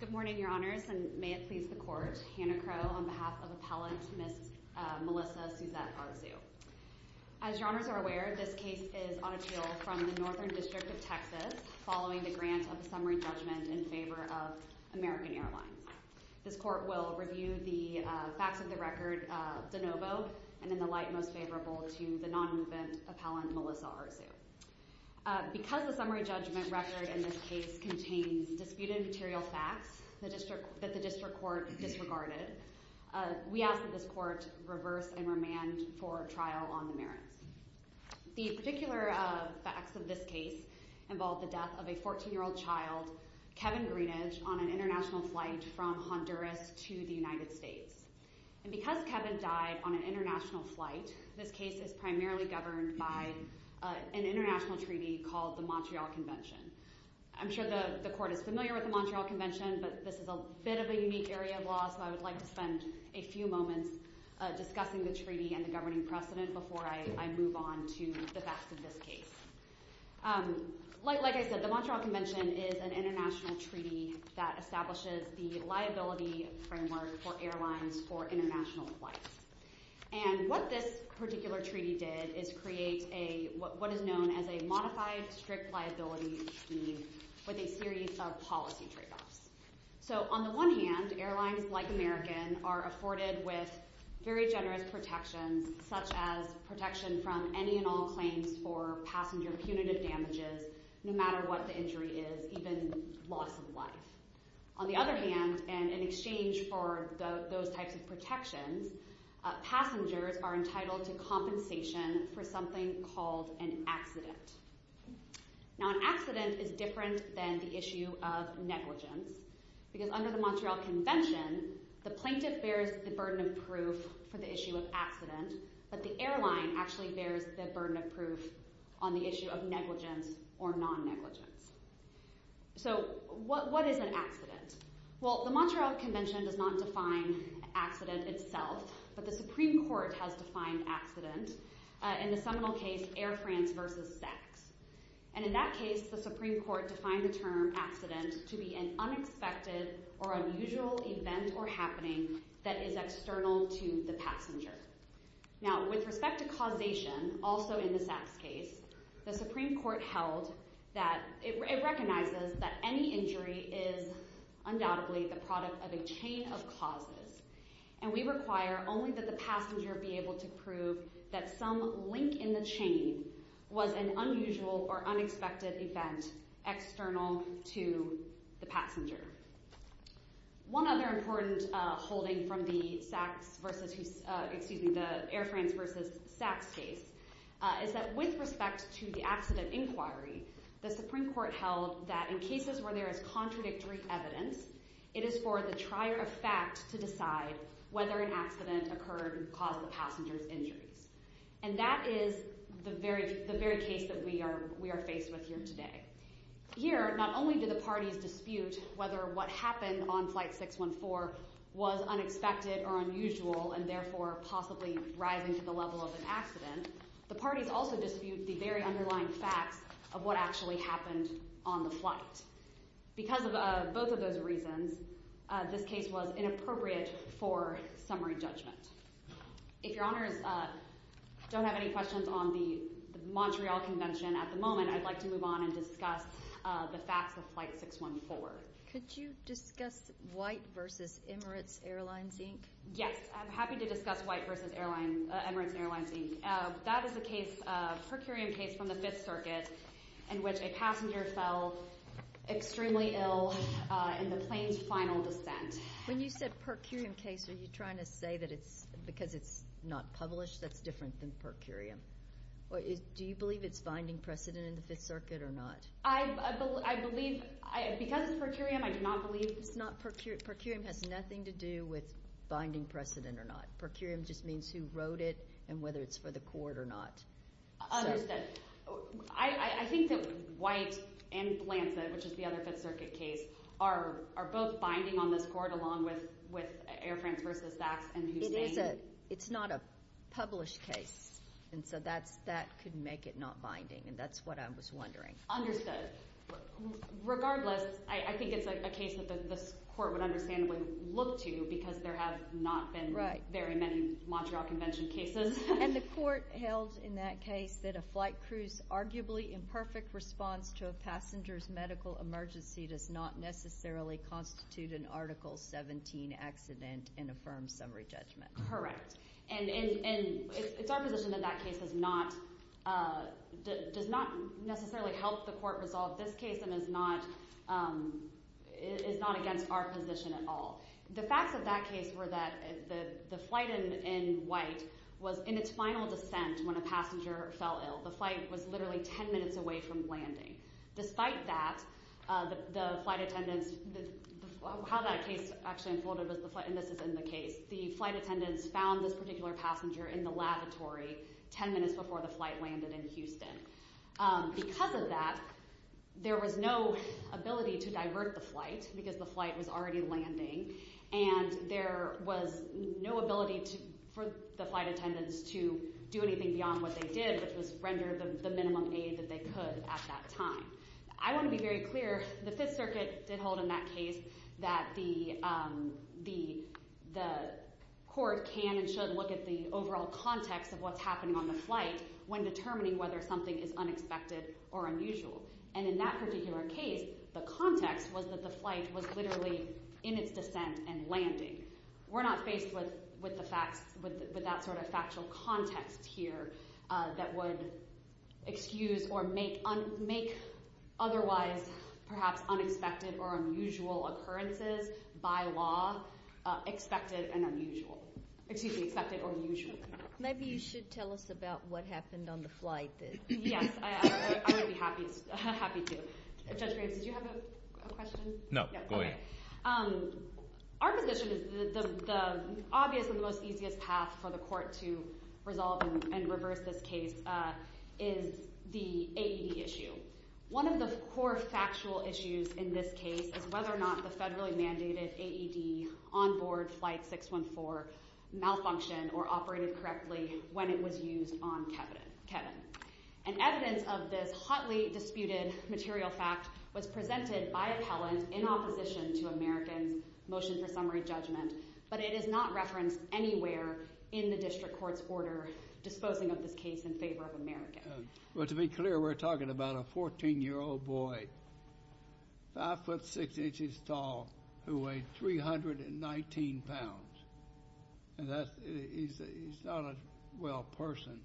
Good morning, Your Honors, and may it please the Court, Hannah Crow on behalf of Appellant Ms. Melissa Suzette Arzu. As Your Honors are aware, this case is on appeal from the Northern District of Texas following the grant of a summary judgment in favor of American Airlines. This Court will review the facts of the record de novo and in the light most favorable to the non-movement Appellant Melissa Arzu. Because the summary judgment record in this case contains disputed material facts that the District Court disregarded, we ask that this Court reverse and remand for trial on the merits. The particular facts of this case involve the death of a 14-year-old child, Kevin Greenidge, on an international flight from Honduras to the United States. Because Kevin died on an international flight, this case is primarily governed by an international treaty called the Montreal Convention. I'm sure the Court is familiar with the Montreal Convention, but this is a bit of a unique area of law, so I would like to spend a few moments discussing the treaty and the governing precedent before I move on to the facts of this case. Like I said, the Montreal Convention is an international treaty that establishes the liability framework for airlines for international flights. And what this particular treaty did is create what is known as a modified strict liability scheme with a series of policy tradeoffs. So on the one hand, airlines like American are afforded with very generous protections, such as protection from any and all claims for passenger punitive damages, no matter what the injury is, even loss of life. On the other hand, and in exchange for those types of protections, passengers are entitled to compensation for something called an accident. Now, an accident is different than the issue of negligence, because under the Montreal Convention, the plaintiff bears the burden of proof for the issue of accident, but the airline actually bears the burden of proof on the issue of negligence or non-negligence. So, what is an accident? Well, the Montreal Convention does not define accident itself, but the Supreme Court has defined accident in the seminal case Air France v. Saks. And in that case, the Supreme Court defined the term accident to be an unexpected or unusual event or happening that is external to the passenger. Now, with respect to causation, also in the Saks case, the Supreme Court held that it recognizes that any injury is undoubtedly the product of a chain of causes, and we require only that the passenger be able to prove that some link in the chain was an unusual or unexpected event external to the passenger. One other important holding from the Air France v. Saks case is that with respect to the accident inquiry, the Supreme Court held that in cases where there is contradictory evidence, it is for the trier of fact to decide whether an accident occurred and caused the passenger's And that is the very case that we are faced with here today. Here, not only do the parties dispute whether what happened on flight 614 was unexpected or unusual and therefore possibly rising to the level of an accident, the parties also dispute the very underlying facts of what actually happened on the flight. Because of both of those reasons, this case was inappropriate for summary judgment. If your honors don't have any questions on the Montreal Convention at the moment, I'd like to move on and discuss the facts of flight 614. Could you discuss White v. Emirates Airlines, Inc.? Yes, I'm happy to discuss White v. Emirates Airlines, Inc. That is a per curiam case from the Fifth Circuit in which a passenger fell extremely ill in the plane's final descent. When you said per curiam case, are you trying to say that it's because it's not published that it's different than per curiam? Or do you believe it's binding precedent in the Fifth Circuit or not? I believe, because it's per curiam, I do not believe it's not per curiam. Per curiam has nothing to do with binding precedent or not. Per curiam just means who wrote it and whether it's for the court or not. Understood. I think that White and Blanchett, which is the other Fifth Circuit case, are both binding on this court along with Air France v. Saks and Hussein. It's not a published case, and so that could make it not binding, and that's what I was wondering. Regardless, I think it's a case that this court would understandably look to because there have not been very many Montreal Convention cases. And the court held in that case that a flight crew's arguably imperfect response to a passenger's medical emergency does not necessarily constitute an Article 17 accident in a firm summary judgment. And it's our position that that case does not necessarily help the court resolve this case and is not against our position at all. The facts of that case were that the flight in White was in its final descent when a passenger fell ill. The flight was literally 10 minutes away from landing. Despite that, the flight attendants, how that case actually unfolded, and this is in the case, the flight attendants found this particular passenger in the lavatory 10 minutes before the flight landed in Houston. Because of that, there was no ability to divert the flight because the flight was already landing, and there was no ability for the flight attendants to do anything beyond what they did, which was render the minimum aid that they could at that time. I want to be very clear. The Fifth Circuit did hold in that case that the court can and should look at the overall context of what's happening on the flight when determining whether something is unexpected or unusual. And in that particular case, the context was that the flight was literally in its descent and landing. We're not faced with the facts, with that sort of factual context here that would excuse or make otherwise perhaps unexpected or unusual occurrences by law expected and unusual. Excuse me, expected or usual. Maybe you should tell us about what happened on the flight then. Yes, I would be happy to. Judge Graves, did you have a question? No, go ahead. Our position is the obvious and the most easiest path for the court to resolve and reverse this case is the AED issue. One of the core factual issues in this case is whether or not the federally mandated AED on board flight 614 malfunctioned or operated correctly when it was used on Kevin. And evidence of this hotly disputed material fact was presented by appellant in opposition to Americans' motion for summary judgment, but it is not referenced anywhere in the district court's order disposing of this case in favor of Americans. Well, to be clear, we're talking about a 14-year-old boy, 5 foot 6 inches tall, who weighed 319 pounds, and he's not a well person.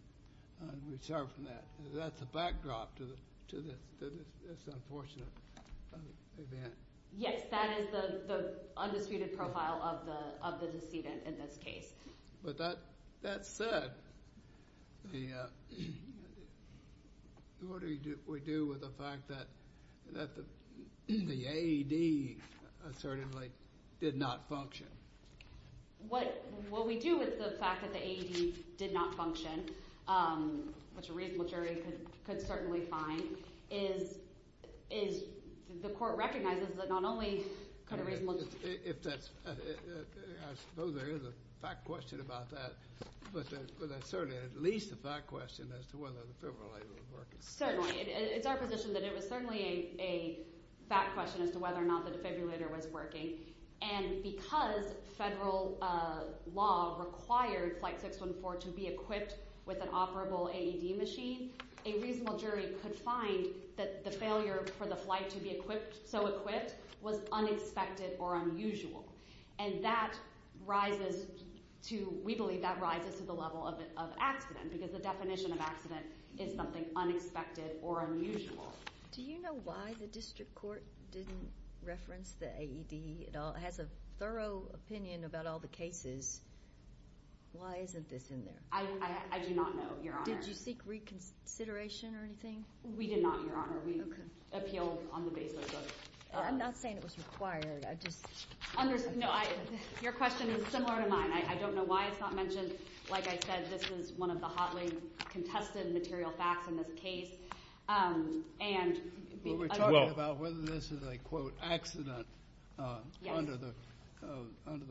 We start from that. That's a backdrop to this unfortunate event. Yes, that is the undisputed profile of the decedent in this case. But that said, what do we do with the fact that the AED assertively did not function? What we do with the fact that the AED did not function, which a reasonable jury could certainly find, is the court recognizes that not only could a reasonable jury find it. If that's, I suppose there is a fact question about that, but that's certainly at least a fact question as to whether the defibrillator was working. Certainly. It's our position that it was certainly a fact question as to whether or not the defibrillator was working. And because federal law required flight 614 to be equipped with an operable AED machine, a reasonable jury could find that the failure for the flight to be equipped, so equipped, was unexpected or unusual. And that rises to, we believe that rises to the level of accident, because the definition of accident is something unexpected or unusual. Do you know why the district court didn't reference the AED at all? It has a thorough opinion about all the cases. Why isn't this in there? I do not know, Your Honor. Did you seek reconsideration or anything? We did not, Your Honor. We appealed on the basis of... I'm not saying it was required. I just... Your question is similar to mine. I don't know why it's not mentioned. Like I said, this is one of the hotly contested material facts in this case. And... Well, we're talking about whether this is a, quote, accident under the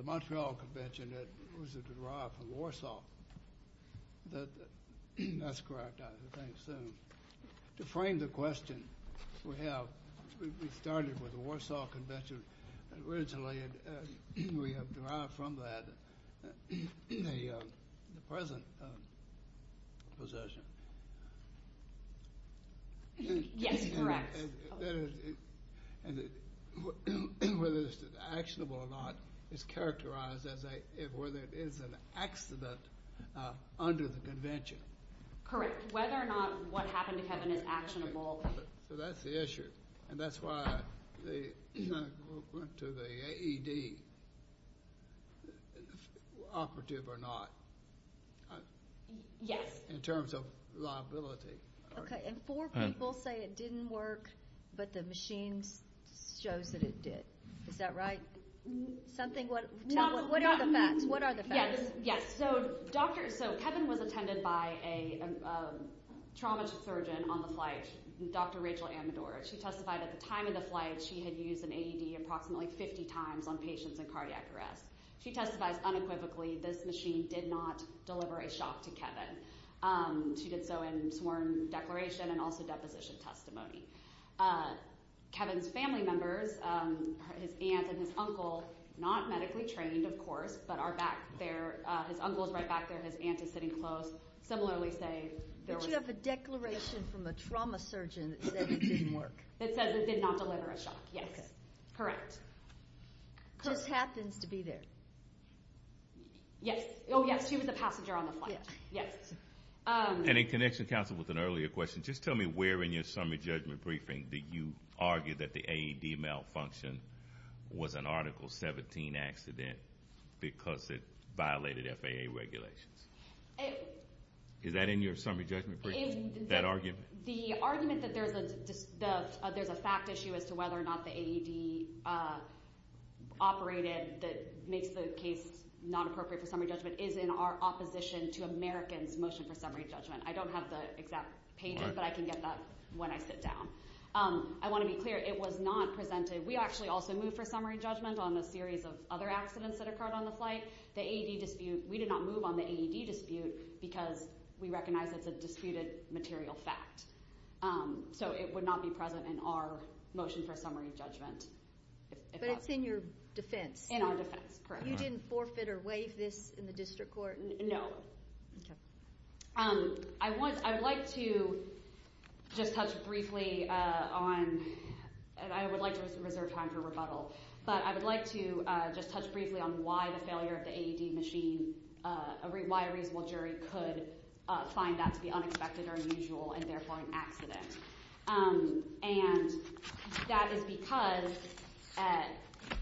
Montreal Convention that was derived from Warsaw. That's correct, I would think so. To frame the question, we have, we started with the Warsaw Convention originally, and we have derived from that the present possession. Yes, correct. Whether it's actionable or not is characterized as a, whether it is an accident under the Correct. Whether or not what happened to Kevin is actionable. So that's the issue. And that's why they went to the AED, operative or not. Yes. In terms of liability. Okay, and four people say it didn't work, but the machines shows that it did. Is that right? Something, what are the facts? What are the facts? Yes. So doctor, so Kevin was attended by a trauma surgeon on the flight, Dr. Rachel Amador. She testified at the time of the flight, she had used an AED approximately 50 times on patients in cardiac arrest. She testified unequivocally, this machine did not deliver a shock to Kevin. She did so in sworn declaration and also deposition testimony. Kevin's family members, his aunt and his uncle, not medically trained, of course, but are back there. His uncle's right back there. His aunt is sitting close. Similarly, say there was- Did you have a declaration from a trauma surgeon that said it didn't work? That says it did not deliver a shock. Yes, correct. Just happens to be there. Yes. Oh, yes. She was a passenger on the flight. Yes. And in connection, counsel, with an earlier question, just tell me where in your summary judgment briefing did you argue that the AED malfunction was an article 17 accident because it violated FAA regulations? Is that in your summary judgment briefing, that argument? The argument that there's a fact issue as to whether or not the AED operated that makes the case not appropriate for summary judgment is in our opposition to Americans' motion for summary judgment. I don't have the exact page, but I can get that when I sit down. I want to be clear, it was not presented. We actually also moved for summary judgment on a series of other accidents that occurred on the flight. The AED dispute, we did not move on the AED dispute because we recognize it's a disputed material fact. So it would not be present in our motion for summary judgment. But it's in your defense. In our defense, correct. You didn't forfeit or waive this in the district court? No. OK. I would like to just touch briefly on, and I would like to reserve time for rebuttal, but I would like to just touch briefly on why the failure of the AED machine, why a reasonable jury could find that to be unexpected or unusual and therefore an accident. And that is because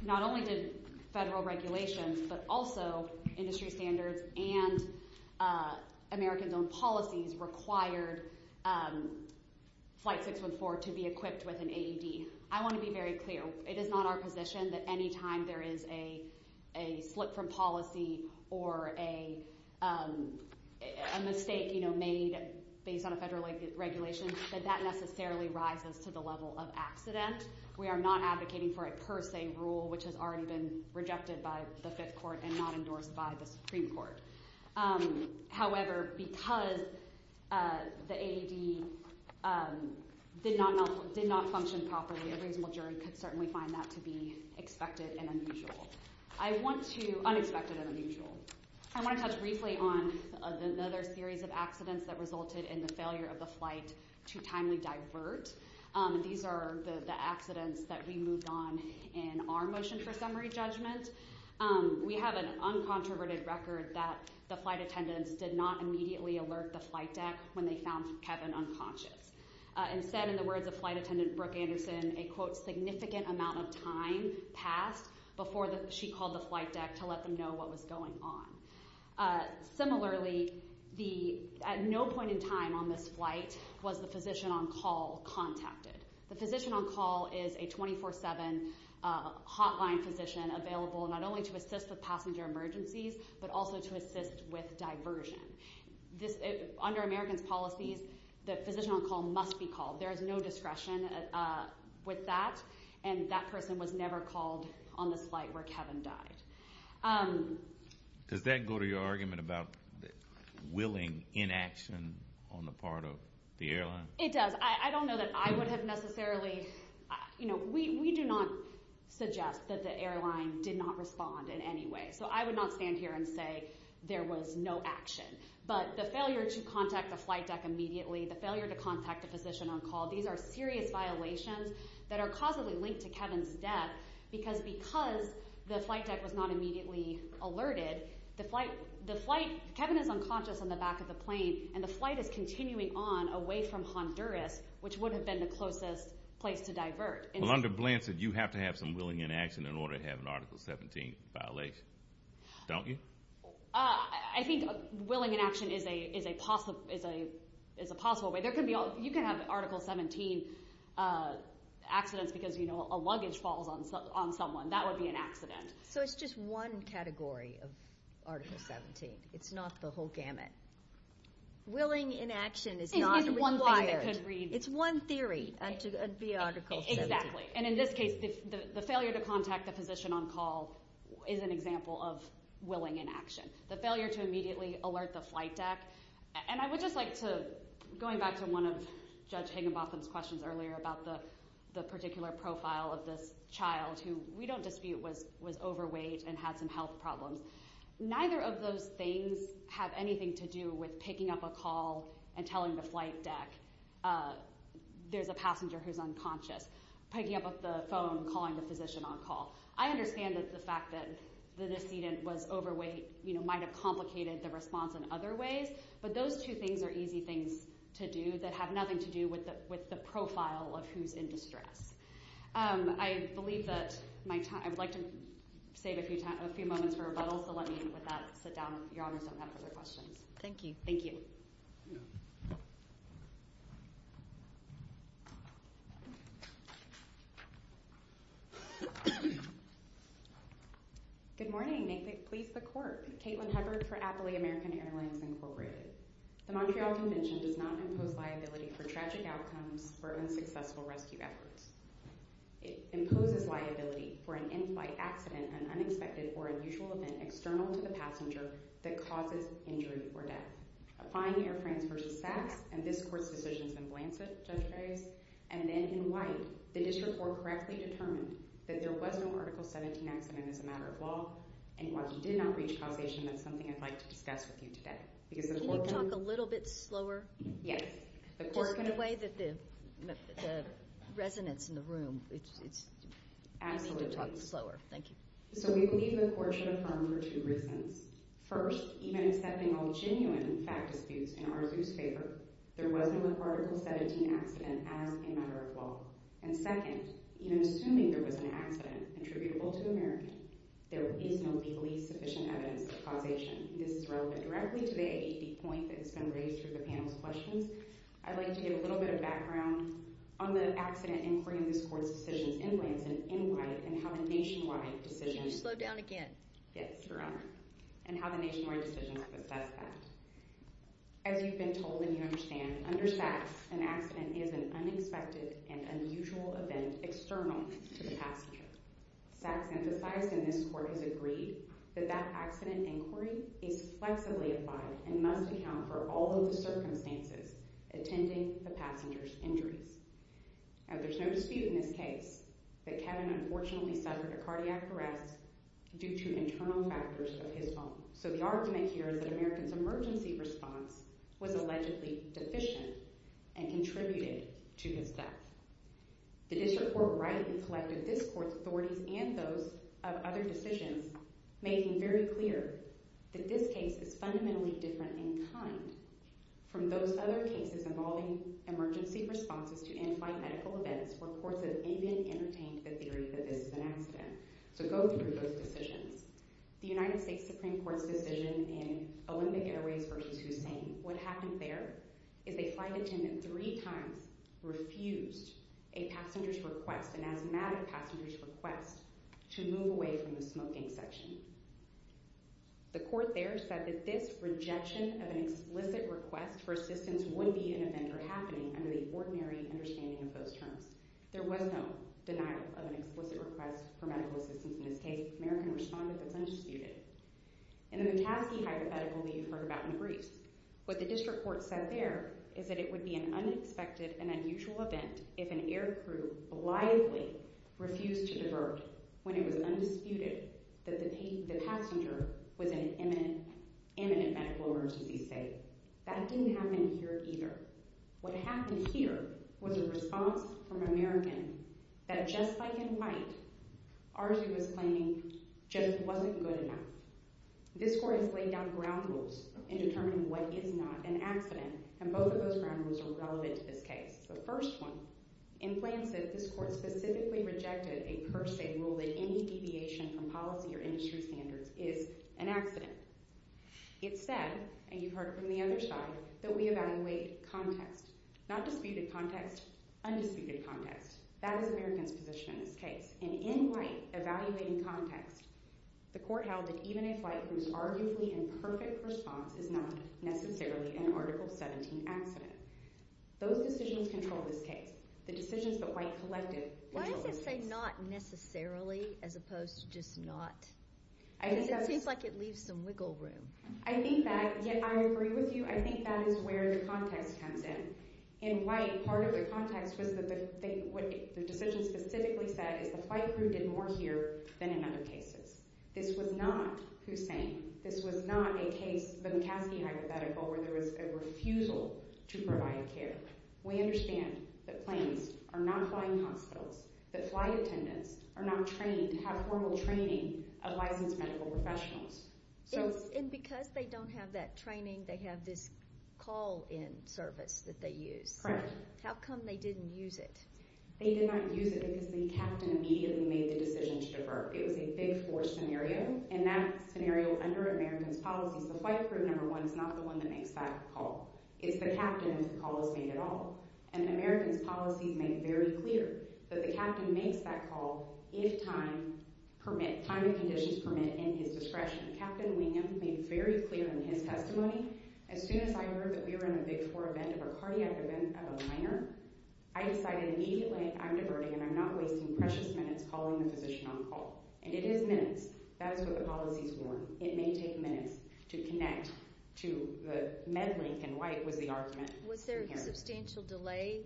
not only did federal regulations, but also industry standards and Americans' own policies required Flight 614 to be equipped with an AED. I want to be very clear. It is not our position that any time there is a slip from policy or a mistake made based on a federal regulation, that that necessarily rises to the level of accident. We are not advocating for a per se rule, which has already been rejected by the Fifth Court and not endorsed by the Supreme Court. However, because the AED did not function properly, a reasonable jury could certainly find that to be expected and unusual. I want to, unexpected and unusual. I want to touch briefly on another series of accidents that resulted in the failure of the flight to timely divert. These are the accidents that we moved on in our motion for summary judgment. We have an uncontroverted record that the flight attendants did not immediately alert the flight deck when they found Kevin unconscious. Instead, in the words of flight attendant Brooke Anderson, a significant amount of time passed before she called the flight deck to let them know what was going on. Similarly, at no point in time on this flight was the physician on call contacted. The physician on call is a 24-7 hotline physician available not only to assist with passenger emergencies, but also to assist with diversion. Under American's policies, the physician on call must be called. There is no discretion with that, and that person was never called on the flight where Kevin died. Does that go to your argument about willing inaction on the part of the airline? It does. I don't know that I would have necessarily, you know, we do not suggest that the airline did not respond in any way. So I would not stand here and say there was no action. But the failure to contact the flight deck immediately, the failure to contact a physician on call, these are serious violations that are causally linked to Kevin's death because because the flight deck was not immediately alerted, the flight, the flight, Kevin is unconscious on the back of the plane, and the flight is continuing on away from Honduras, which would have been the closest place to divert. Melinda Blanton, you have to have some willing inaction in order to have an Article 17 violation. Don't you? I think willing inaction is a possible way. There can be, you can have Article 17 accidents because, you know, a luggage falls on someone. That would be an accident. So it's just one category of Article 17. It's not the whole gamut. Willing inaction is not required. It's one theory, and to be Article 17. Exactly. And in this case, the failure to contact the physician on call is an example of willing inaction. The failure to immediately alert the flight deck, and I would just like to, going back to one of Judge Higginbotham's questions earlier about the particular profile of this child, who we don't dispute was overweight and had some health problems. Neither of those things have anything to do with picking up a call and telling the flight deck, there's a passenger who's unconscious, picking up the phone, calling the physician on call. I understand that the fact that the decedent was overweight, you know, might have complicated the response in other ways, but those two things are easy things to do that have nothing to do with the profile of who's in distress. I believe that my time, I'd like to save a few moments for rebuttal, so let me, with that, sit down with your Honours on that for their questions. Thank you. Thank you. Good morning. May it please the Court. Caitlin Hubbard for Appley American Airlines, Incorporated. The Montreal Convention does not impose liability for tragic outcomes for unsuccessful rescue efforts. It imposes liability for an in-flight accident, an unexpected or unusual event external to the passenger that causes injury or death. Applying Air France v. Saks and this Court's decisions in Blancet, Judge Gray, and then in White, the District Court correctly determined that there was no Article 17 accident as a matter of law, and while you did not reach causation, that's something I'd like to discuss with you today. Can you talk a little bit slower? Yes. Just in a way that the resonance in the room, it's, I need to talk slower. Thank you. So we believe the Court should affirm for two reasons. First, even accepting all genuine fact disputes in Arzu's favor, there was no Article 17 accident as a matter of law. And second, even assuming there was an accident attributable to American, there is no legally sufficient evidence of causation. This is relevant directly to the point that has been raised through the panel's questions. I'd like to get a little bit of background on the accident inquiry in this Court's decisions in Blancet, in White, and how the nationwide decisions— Can you slow down again? Yes, Your Honor. And how the nationwide decisions possess that. As you've been told and you understand, under Saks, an accident is an unexpected and unusual event external to the passenger. Saks emphasized, and this Court has agreed, that that accident inquiry is flexibly applied and must account for all of the circumstances attending the passenger's injuries. Now, there's no dispute in this case that Kevin unfortunately suffered a cardiac arrest due to internal factors of his own. So the argument here is that American's emergency response was allegedly deficient and contributed to his death. The District Court rightly collected this Court's authorities and those of other decisions, making very clear that this case is fundamentally different in kind from those other cases involving emergency responses to in-flight medical events where courts have even entertained the theory that this is an accident. So go through those decisions. The United States Supreme Court's decision in Olympic Airways v. Hussein, what happened there is a flight attendant three times refused a passenger's request, an asthmatic passenger's request, to move away from the smoking section. The Court there said that this rejection of an explicit request for assistance would be an event or happening under the ordinary understanding of those terms. There was no denial of an explicit request for medical assistance in this case. American responded that it's undisputed. In the McCaskey hypothetical that you've heard about in briefs, what the District Court said there is that it would be an unexpected and unusual event if an aircrew blithely refused to divert when it was undisputed that the passenger was in an imminent medical emergency state. That didn't happen here either. What happened here was a response from American that, just like in flight, RZU was claiming just wasn't good enough. This Court has laid down ground rules in determining what is not an accident, and both of those ground rules are relevant to this case. The first one, in Plansif, this Court specifically rejected a per se rule that any deviation from policy or industry standards is an accident. It said, and you've heard it from the other side, that we evaluate context. Not disputed context, undisputed context. That is American's position in this case. And in white, evaluating context, the Court held that even if white proves arguably an perfect response, it's not necessarily an Article 17 accident. Those decisions control this case. The decisions that white collective control this case. Why does it say not necessarily as opposed to just not? It seems like it leaves some wiggle room. I think that, yet I agree with you, I think that is where the context comes in. In white, part of the context was what the decision specifically said is the flight crew did more here than in other cases. This was not Hussein. This was not a case, the McCaskey hypothetical, where there was a refusal to provide care. We understand that planes are not flying hospitals, that flight attendants are not trained to have formal training of licensed medical professionals. And because they don't have that training, they have this call-in service that they use. Correct. How come they didn't use it? They did not use it because the captain immediately made the decision to divert. It was a big force scenario. And that scenario, under American's policies, the flight crew, number one, is not the one that makes that call. It's the captain's call that's made at all. And American's policies make very clear that the captain makes that call if time, permit, time and conditions permit in his discretion. Captain Wingen made very clear in his testimony, as soon as I heard that we were in a big four event of a cardiac event of a minor, I decided immediately I'm diverting and I'm not wasting precious minutes calling the physician on call. And it is minutes. That's what the policies warn. It may take minutes to connect to the med link. And white was the argument. Was there a substantial delay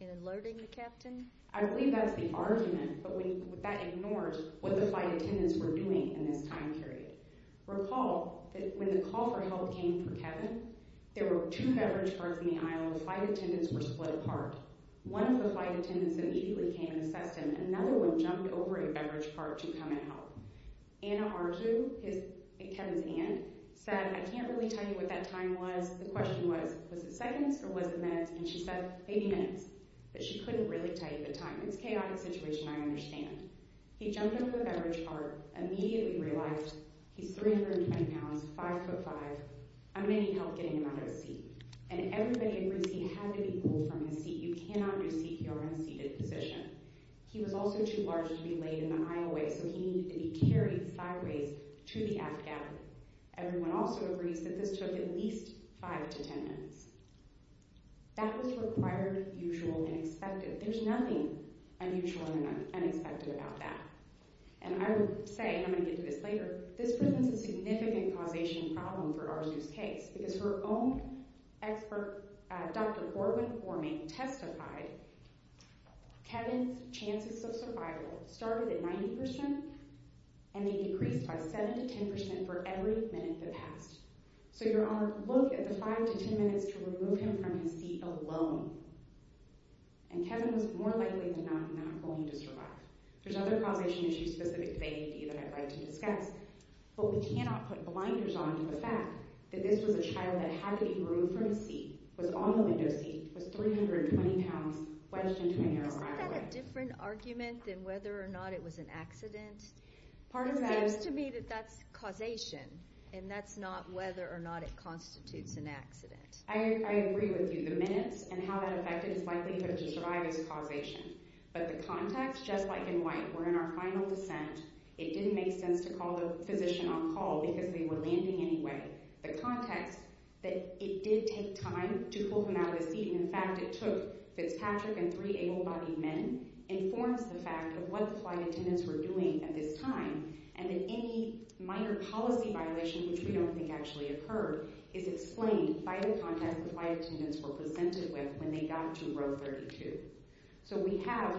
in alerting the captain? I believe that's the argument. But that ignores what the flight attendants were doing in this time period. Recall that when the call for help came for Kevin, there were two beverage carts in the Flight attendants were split apart. One of the flight attendants immediately came and assessed him. Another one jumped over a beverage cart to come and help. Anna Arzu, Kevin's aunt, said, I can't really tell you what that time was. The question was, was it seconds or was it minutes? And she said, maybe minutes. But she couldn't really tell you the time. It's a chaotic situation, I understand. He jumped over the beverage cart, immediately realized he's 320 pounds, five foot five. I'm going to need help getting him out of his seat. And everybody in Brucene had to be pulled from his seat. You cannot do CPR in a seated position. He was also too large to be laid in the aisleway. So he needed to be carried sideways to the aft gap. Everyone also agrees that this took at least five to 10 minutes. That was required, usual, and expected. There's nothing unusual and unexpected about that. And I would say, and I'm going to get to this later, this presents a significant causation problem for Arzu's case. Because her own expert, Dr. Corwin Gorman, testified Kevin's chances of survival started at 90%, and they decreased by 7% to 10% for every minute that passed. So your Honor, look at the five to 10 minutes to remove him from his seat alone. And Kevin was more likely than not not going to survive. There's other causation issues specific to A&D that I'd like to discuss. But we cannot put blinders on to the fact that this was a child that had to be removed from his seat, was on the window seat, was 320 pounds, wedged into an airway. Isn't that a different argument than whether or not it was an accident? It seems to me that that's causation. And that's not whether or not it constitutes an accident. I agree with you. The minutes and how that affected his likelihood to survive is causation. But the context, just like in White, were in our final dissent, it didn't make sense to call the physician on call because they were landing anyway. The context that it did take time to pull him out of his seat, and in fact it took Fitzpatrick and three able-bodied men, informs the fact of what the flight attendants were doing at this time, and that any minor policy violation, which we don't think actually occurred, is explained by the context the flight attendants were presented with when they got to row 32. So we have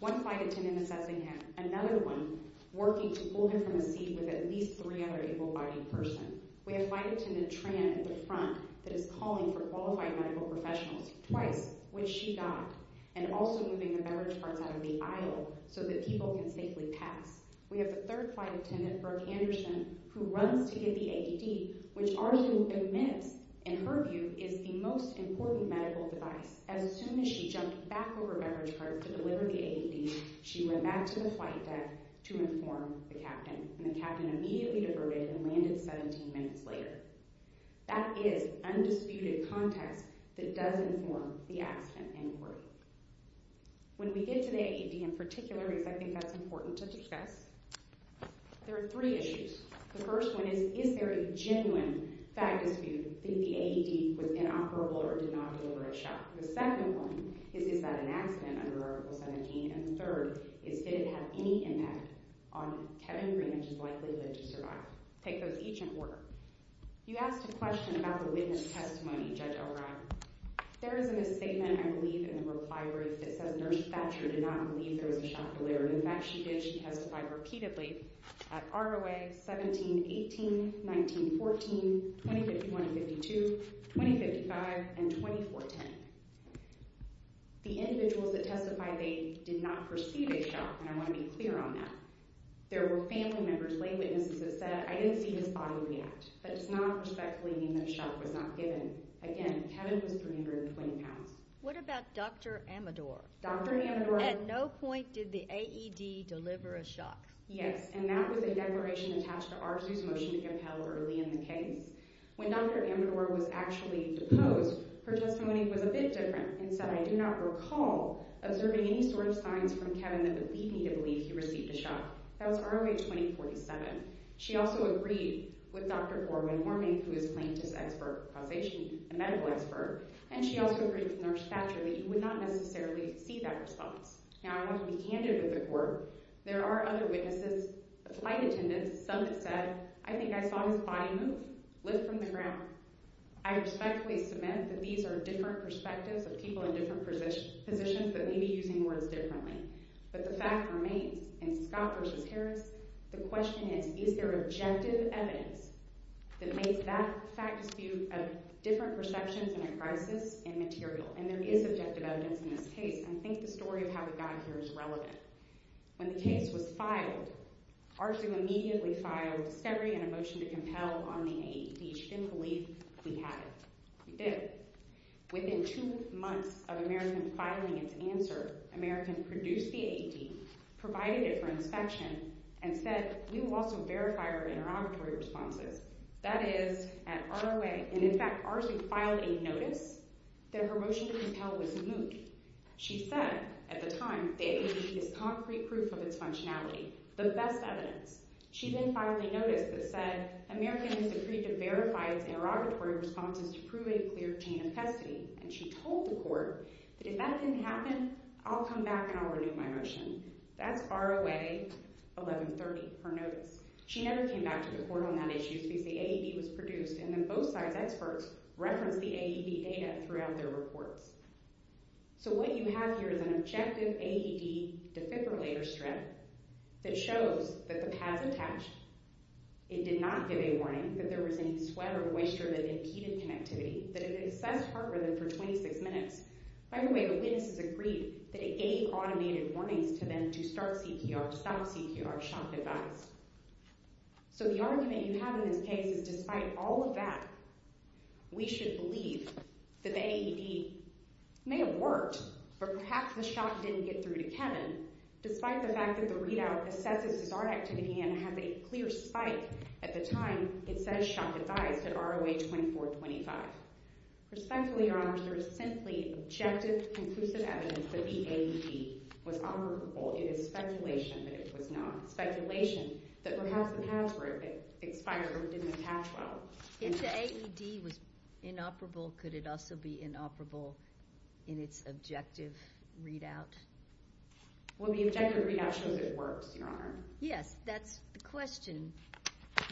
one flight attendant assessing him, another one working to pull him from his seat with at least three other able-bodied persons. We have flight attendant Tran at the front that is calling for qualified medical professionals twice, which she got, and also moving the beverage carts out of the aisle so that people can safely pass. We have the third flight attendant, Brooke Anderson, who runs to get the AED, which arguably in minutes, in her view, is the most important medical device. As soon as she jumped back over beverage carts to deliver the AED, she went back to the flight deck to inform the captain, and the captain immediately diverted and landed 17 minutes later. That is undisputed context that does inform the accident inquiry. When we get to the AED in particular, because I think that's important to discuss, there are three issues. The first one is, is there a genuine fact dispute that the AED was inoperable or did not deliver a shot? The second one is, is that an accident under Article 17? And the third is, did it have any impact on Kevin Greenidge's likelihood to survive? Take those each in order. You asked a question about the witness testimony, Judge Elrod. There is a misstatement, I believe, in the reply writ that says Nurse Thatcher did not believe there was a shot delivered. In fact, she did. She testified repeatedly at ROA 17-18, 19-14, 20-51-52, 20-55, and 20-4-10. The individuals that testified, they did not perceive a shot, and I want to be clear on that. There were family members, lay witnesses that said, I didn't see his body react. That does not respectfully mean that a shot was not given. Again, Kevin was 320 pounds. What about Dr. Amador? Dr. Amador- At no point did the AED deliver a shot. Yes, and that was a declaration attached to Arzu's motion to compel early in the case. When Dr. Amador was actually deposed, her testimony was a bit different and said, I do not recall observing any sort of signs from Kevin that would lead me to believe he received a shot. That was ROA 20-47. She also agreed with Dr. Orwin-Hormank, who is a plaintiff's expert, a medical expert, and she also agreed with Nurse Thatcher that you would not necessarily see that response. Now, I want to be candid with the court. There are other witnesses, flight attendants, some that said, I think I saw his body move, lift from the ground. I respectfully submit that these are different perspectives of people in different positions that may be using words differently. But the fact remains, in Scott v. Harris, the question is, is there objective evidence that makes that fact dispute of different perceptions in a crisis immaterial? And there is objective evidence in this case, and I think the story of how it got here is relevant. When the case was filed, Arzu immediately filed a discovery and a motion to compel on the AED. She didn't believe we had it. We did. Within two months of American filing its answer, American produced the AED, provided it for inspection, and said, we will also verify our interrogatory responses. That is, at ROA, and in fact, Arzu filed a notice that her motion to compel was moot. She said, at the time, the AED is concrete proof of its functionality, the best evidence. She then filed a notice that said, American has agreed to verify its interrogatory responses to prove a clear chain of custody, and she told the court that if that didn't happen, I'll come back and I'll renew my motion. That's ROA 1130, her notice. She never came back to the court on that issue because the AED was produced, and then both sides' experts referenced the AED data throughout their reports. So what you have here is an objective AED defibrillator strip that shows that the pads attached, it did not give a warning that there was any sweat or moisture that impeded connectivity, that it assessed heart rhythm for 26 minutes. By the way, the witnesses agreed that it gave automated warnings to them to start CPR, stop CPR, shock device. So the argument you have in this case is, despite all of that, we should believe that the AED may have worked, but perhaps the shock didn't get through to Kevin. Despite the fact that the readout assesses his heart activity and has a clear spike at the time, it says shock device at ROA 2425. Respectfully, Your Honors, there is simply objective conclusive evidence that the AED was operable. It is speculation that it was not. Speculation that perhaps the pads were expired or didn't attach well. If the AED was inoperable, could it also be inoperable in its objective readout? Will the objective readout show that it worked, Your Honor? Yes, that's the question.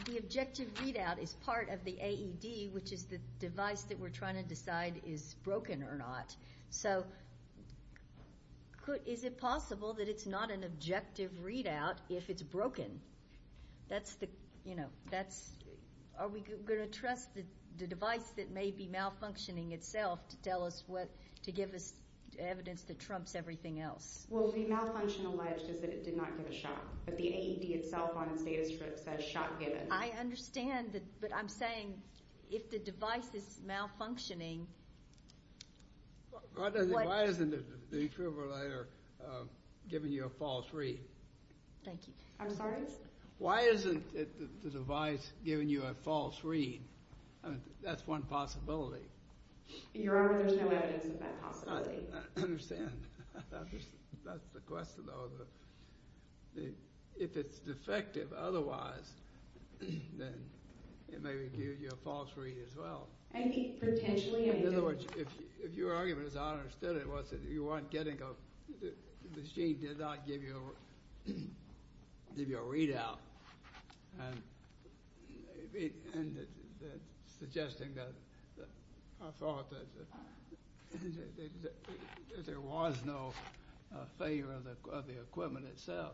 The objective readout is part of the AED, which is the device that we're trying to decide is broken or not. So is it possible that it's not an objective readout if it's broken? Are we going to trust the device that may be malfunctioning itself to give us evidence that trumps everything else? Well, the malfunction alleged is that it did not give a shock. But the AED itself on the status strip says shock given. I understand that. But I'm saying if the device is malfunctioning... Why isn't the detribalator giving you a false read? Thank you. I'm sorry? Why isn't the device giving you a false read? That's one possibility. Your Honor, there's no evidence of that possibility. I understand. That's the question, though. If it's defective otherwise, then it may give you a false read as well. I think potentially... In other words, if your argument, as I understood it, was that you weren't getting a... The machine did not give you a readout. And suggesting that I thought that there was no failure of the equipment itself.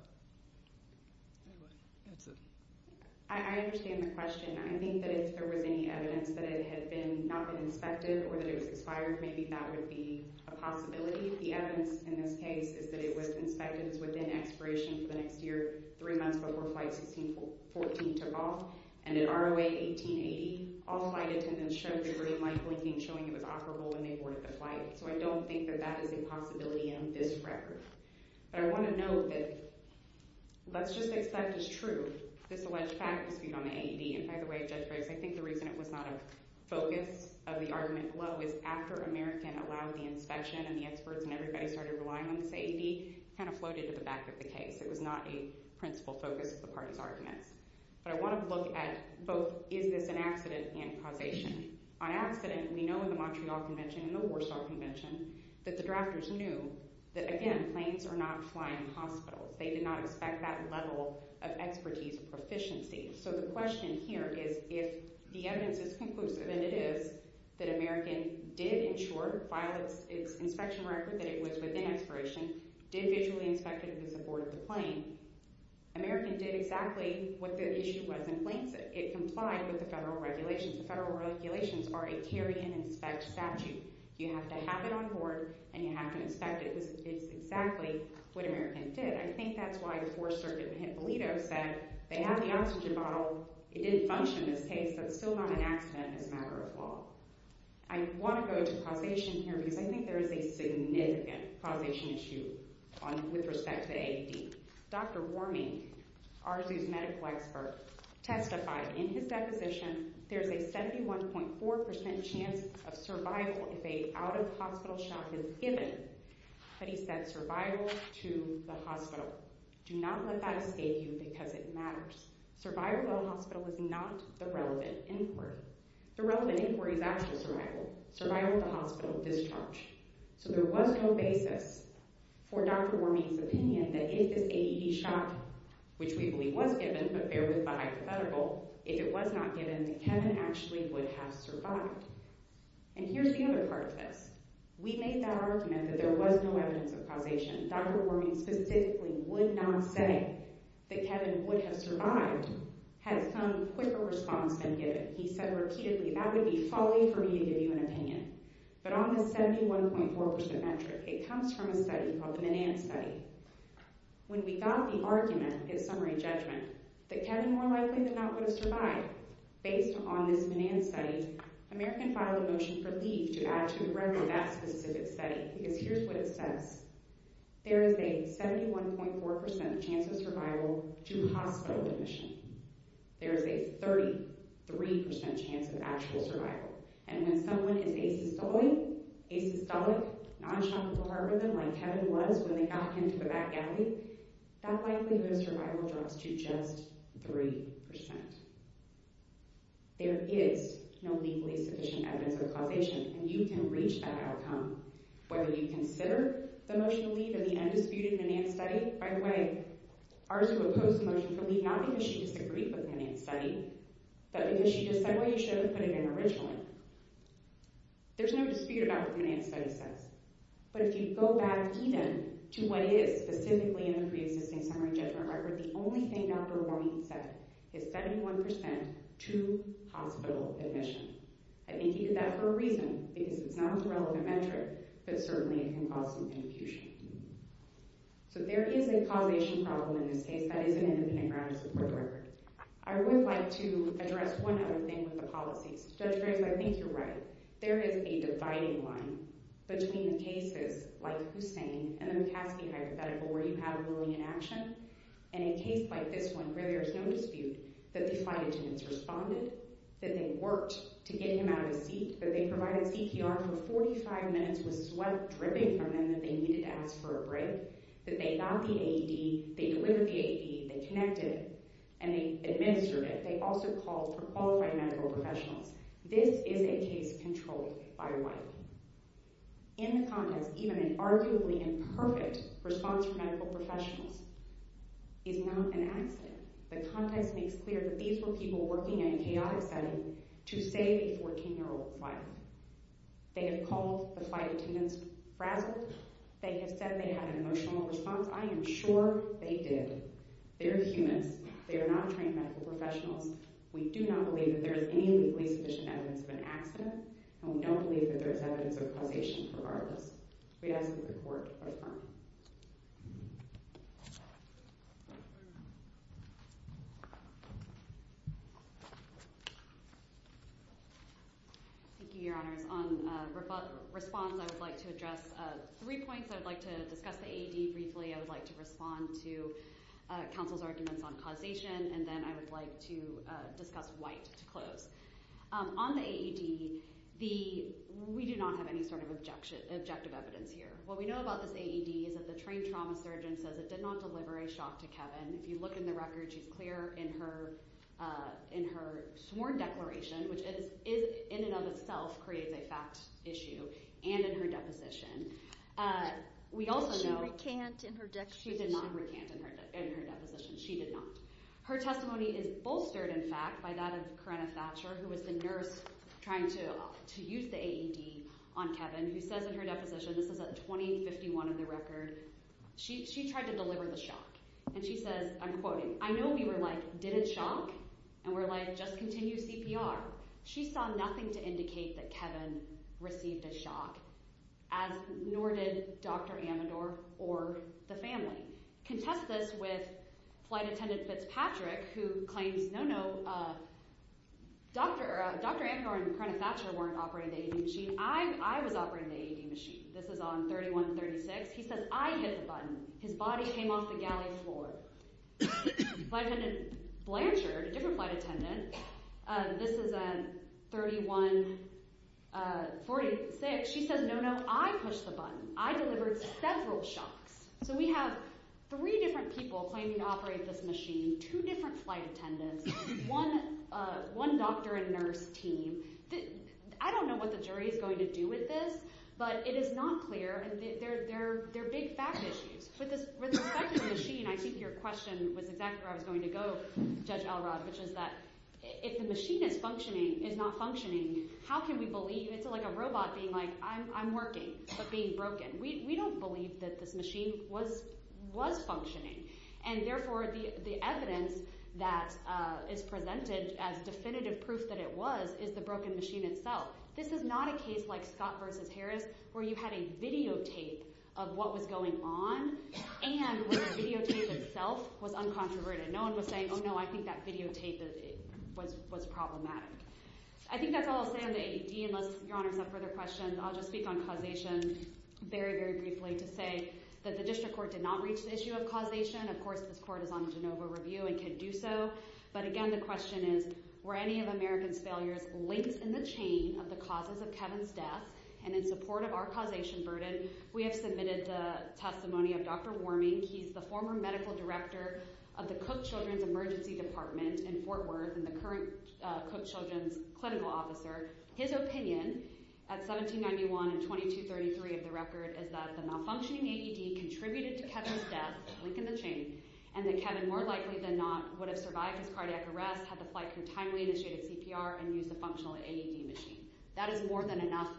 I understand the question. I think that if there was any evidence that it had not been inspected or that it was expired, maybe that would be a possibility. The evidence in this case is that it was inspected as within expiration for the next year, three months before Flight 1614 took off. And in ROA 1880, all flight attendants showed they were in light blinking, showing it was operable when they boarded the flight. So I don't think that that is a possibility in this record. But I want to note that let's just accept it's true. This alleged fact was viewed on the AED. And by the way, Judge Briggs, I think the reason it was not a focus of the argument below is after American allowed the inspection and the experts and everybody started relying on the AED, it kind of floated to the back of the case. It was not a principal focus of the party's arguments. But I want to look at both is this an accident and causation. On accident, we know in the Montreal Convention and the Warsaw Convention that the drafters knew that, again, planes are not flying in hospitals. They did not expect that level of expertise or proficiency. So the question here is if the evidence is conclusive, and it is, that American did, in short, file its inspection record that it was within expiration, did visually inspect it with the support of the plane. American did exactly what the issue was in planes. It complied with the federal regulations. The federal regulations are a carry-and-inspect statute. You have to have it on board, and you have to inspect it. It's exactly what American did. I think that's why the Fourth Circuit in Hippolito said they have the oxygen bottle. It didn't function in this case, so it's still not an accident. It's a matter of law. I want to go to causation here because I think there is a significant causation issue with respect to the AED. Dr. Warming, RZU's medical expert, testified in his deposition, there's a 71.4% chance of survival if a out-of-hospital shot is given. But he said survival to the hospital. Do not let that escape you because it matters. Survival at a hospital is not the relevant inquiry. The relevant inquiry is actual survival. Survival at the hospital, discharge. So there was no basis for Dr. Warming's opinion that if this AED shot, which we believe was given, but bear with my hypothetical, if it was not given, that Kevin actually would have survived. And here's the other part of this. We made that argument that there was no evidence of causation. Dr. Warming specifically would not say that Kevin would have survived had some quicker response been given. He said repeatedly, that would be folly for me to give you an opinion. But on this 71.4% metric, it comes from a study called the MNAN study. When we got the argument, his summary judgment, that Kevin more likely than not would have survived based on this MNAN study, American filed a motion for leave to add to the record that specific study. Because here's what it says. There is a 71.4% chance of survival due to hospital admission. There is a 33% chance of actual survival. And when someone is asystolic, nonchalant with a heart rhythm, like Kevin was when they got him to the back alley, that likelihood of survival drops to just 3%. There is no legally sufficient evidence of causation, and you can reach that outcome, whether you consider the motion to leave or the undisputed MNAN study. By the way, Arzu opposed the motion for leave, not because she disagreed with the MNAN study, but because she just said why you shouldn't have put it in originally. There's no dispute about what the MNAN study says. But if you go back even to what it is, specifically in the pre-existing summary judgment record, the only thing Dr. Warne said is 71% to hospital admission. I think he did that for a reason, because it's not a relevant metric, but certainly it can cause some confusion. So there is a causation problem in this case that is an independent ground to support the record. I would like to address one other thing with the policies. Judge Graves, I think you're right. There is a dividing line between the cases like Hussain and the McCaskey hypothetical where you have a ruling in action, and a case like this one where there's no dispute that the flight attendants responded, that they worked to get him out of his seat, that they provided CPR for 45 minutes with sweat dripping from them that they needed to ask for a break, that they got the AED, they delivered the AED, they connected it, and they administered it. They also called for qualified medical professionals. This is a case controlled by Wiley. In the context, even an arguably imperfect response from medical professionals is not an accident. The context makes clear that these were people working in a chaotic setting to save a 14-year-old flight. They have called the flight attendants frazzled. They have said they had an emotional response. I am sure they did. They are humans. They are not trained medical professionals. We do not believe that there is any legally sufficient evidence of an accident, and we don't believe that there is evidence of causation for all of this. We ask that the court respond. Thank you, Your Honors. On response, I would like to address three points. I would like to discuss the AED briefly. I would like to respond to counsel's arguments on causation, and then I would like to discuss White to close. On the AED, we do not have any sort of objective evidence here. What we know about this AED is that the trained trauma surgeon says it did not deliver a shock to Kevin. If you look in the record, she's clear in her sworn declaration, which in and of itself creates a fact issue, and in her deposition. But she recant in her deposition. She did not recant in her deposition. She did not. Her testimony is bolstered, in fact, by that of Karenna Thatcher, who was the nurse trying to use the AED on Kevin, who says in her deposition, this is at 2051 in the record, she tried to deliver the shock. And she says, I'm quoting, I know we were like, did it shock? And we're like, just continue CPR. She saw nothing to indicate that Kevin received a shock as nor did Dr. Amador or the family. Contest this with flight attendant Fitzpatrick, who claims, no, no, Dr. Amador and Karenna Thatcher weren't operating the AED machine. I was operating the AED machine. This is on 3136. He says, I hit the button. His body came off the galley floor. Flight attendant Blanchard, a different flight attendant, this is at 3146. She says, no, no, I pushed the button. I delivered several shocks. So we have three different people claiming to operate this machine, two different flight attendants, one doctor and nurse team. I don't know what the jury is going to do with this, but it is not clear. They're big fact issues. With respect to the machine, I think your question was exactly where I was going to go, Judge Elrod, which is that if the machine is not functioning, how can we believe? It's like a robot being like, I'm working, but being broken. We don't believe that this machine was functioning. And therefore, the evidence that is presented as definitive proof that it was is the broken machine itself. This is not a case like Scott versus Harris, where you had a videotape of what was going on and where the videotape itself was uncontroverted. No one was saying, oh, no, I think that videotape was problematic. I think that's all I'll say on the ADD, unless your honor has no further questions. I'll just speak on causation very, very briefly to say that the district court did not reach the issue of causation. Of course, this court is on a Genova review and can do so. But again, the question is, were any of American's failures linked in the chain of the causes of Kevin's death? And in support of our causation burden, we have submitted the testimony of Dr. Worming. He's the former medical director of the Cook Children's Emergency Department in Fort Worth and the current Cook Children's clinical officer. His opinion at 1791 and 2233 of the record is that the malfunctioning AED contributed to Kevin's death, linked in the chain, and that Kevin, more likely than not, would have survived his cardiac arrest, had the flight crew timely initiated CPR, and used a functional AED machine. That is more than enough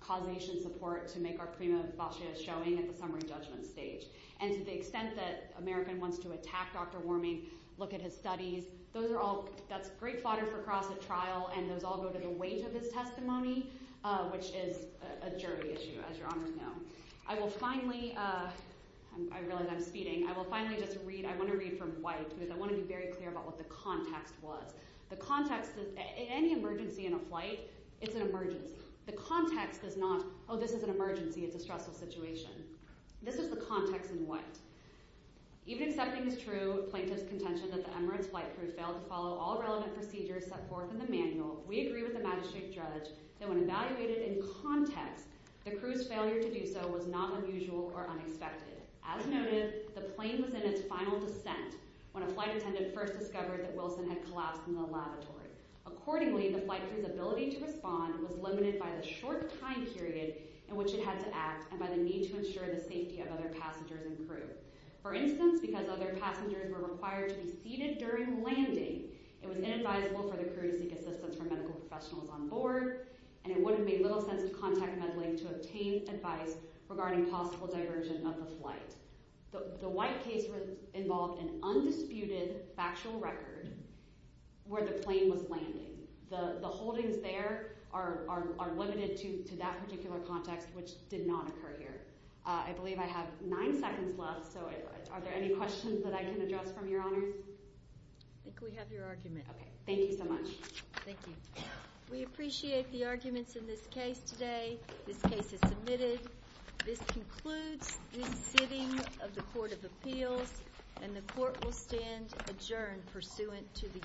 causation support to make our prima facie a showing at the summary judgment stage. And to the extent that American wants to attack Dr. Worming, look at his studies, those are all, that's great fodder for Cross at trial, and those all go to the weight of his testimony, which is a jury issue, as your honors know. I will finally, I realize I'm speeding, I will finally just read, I want to read from white, because I want to be very clear about what the context was. The context is, any emergency in a flight, it's an emergency. The context is not, oh, this is an emergency, it's a stressful situation. This is the context in white. Even accepting as true plaintiff's contention that the Emirates flight crew failed to follow all relevant procedures set forth in the manual, we agree with the magistrate judge that when evaluated in context, the crew's failure to do so was not unusual or unexpected. As noted, the plane was in its final descent when a flight attendant first discovered that Wilson had collapsed in the lavatory. Accordingly, the flight crew's ability to respond was limited by the short time period in which it had to act and by the need to ensure the safety of other passengers and crew. For instance, because other passengers were required to be seated during landing, it was inadvisable for the crew to seek assistance from medical professionals on board, and it would have made little sense to contact MedLink to obtain advice regarding possible diversion of the flight. The white case involved an undisputed factual record where the plane was landing. The holdings there are limited to that particular context, which did not occur here. I believe I have nine seconds left, so are there any questions that I can address from your honors? I think we have your argument. Okay, thank you so much. Thank you. We appreciate the arguments in this case today. This case is submitted. This concludes the sitting of the Court of Appeals, and the court will stand adjourned pursuant to the usual order.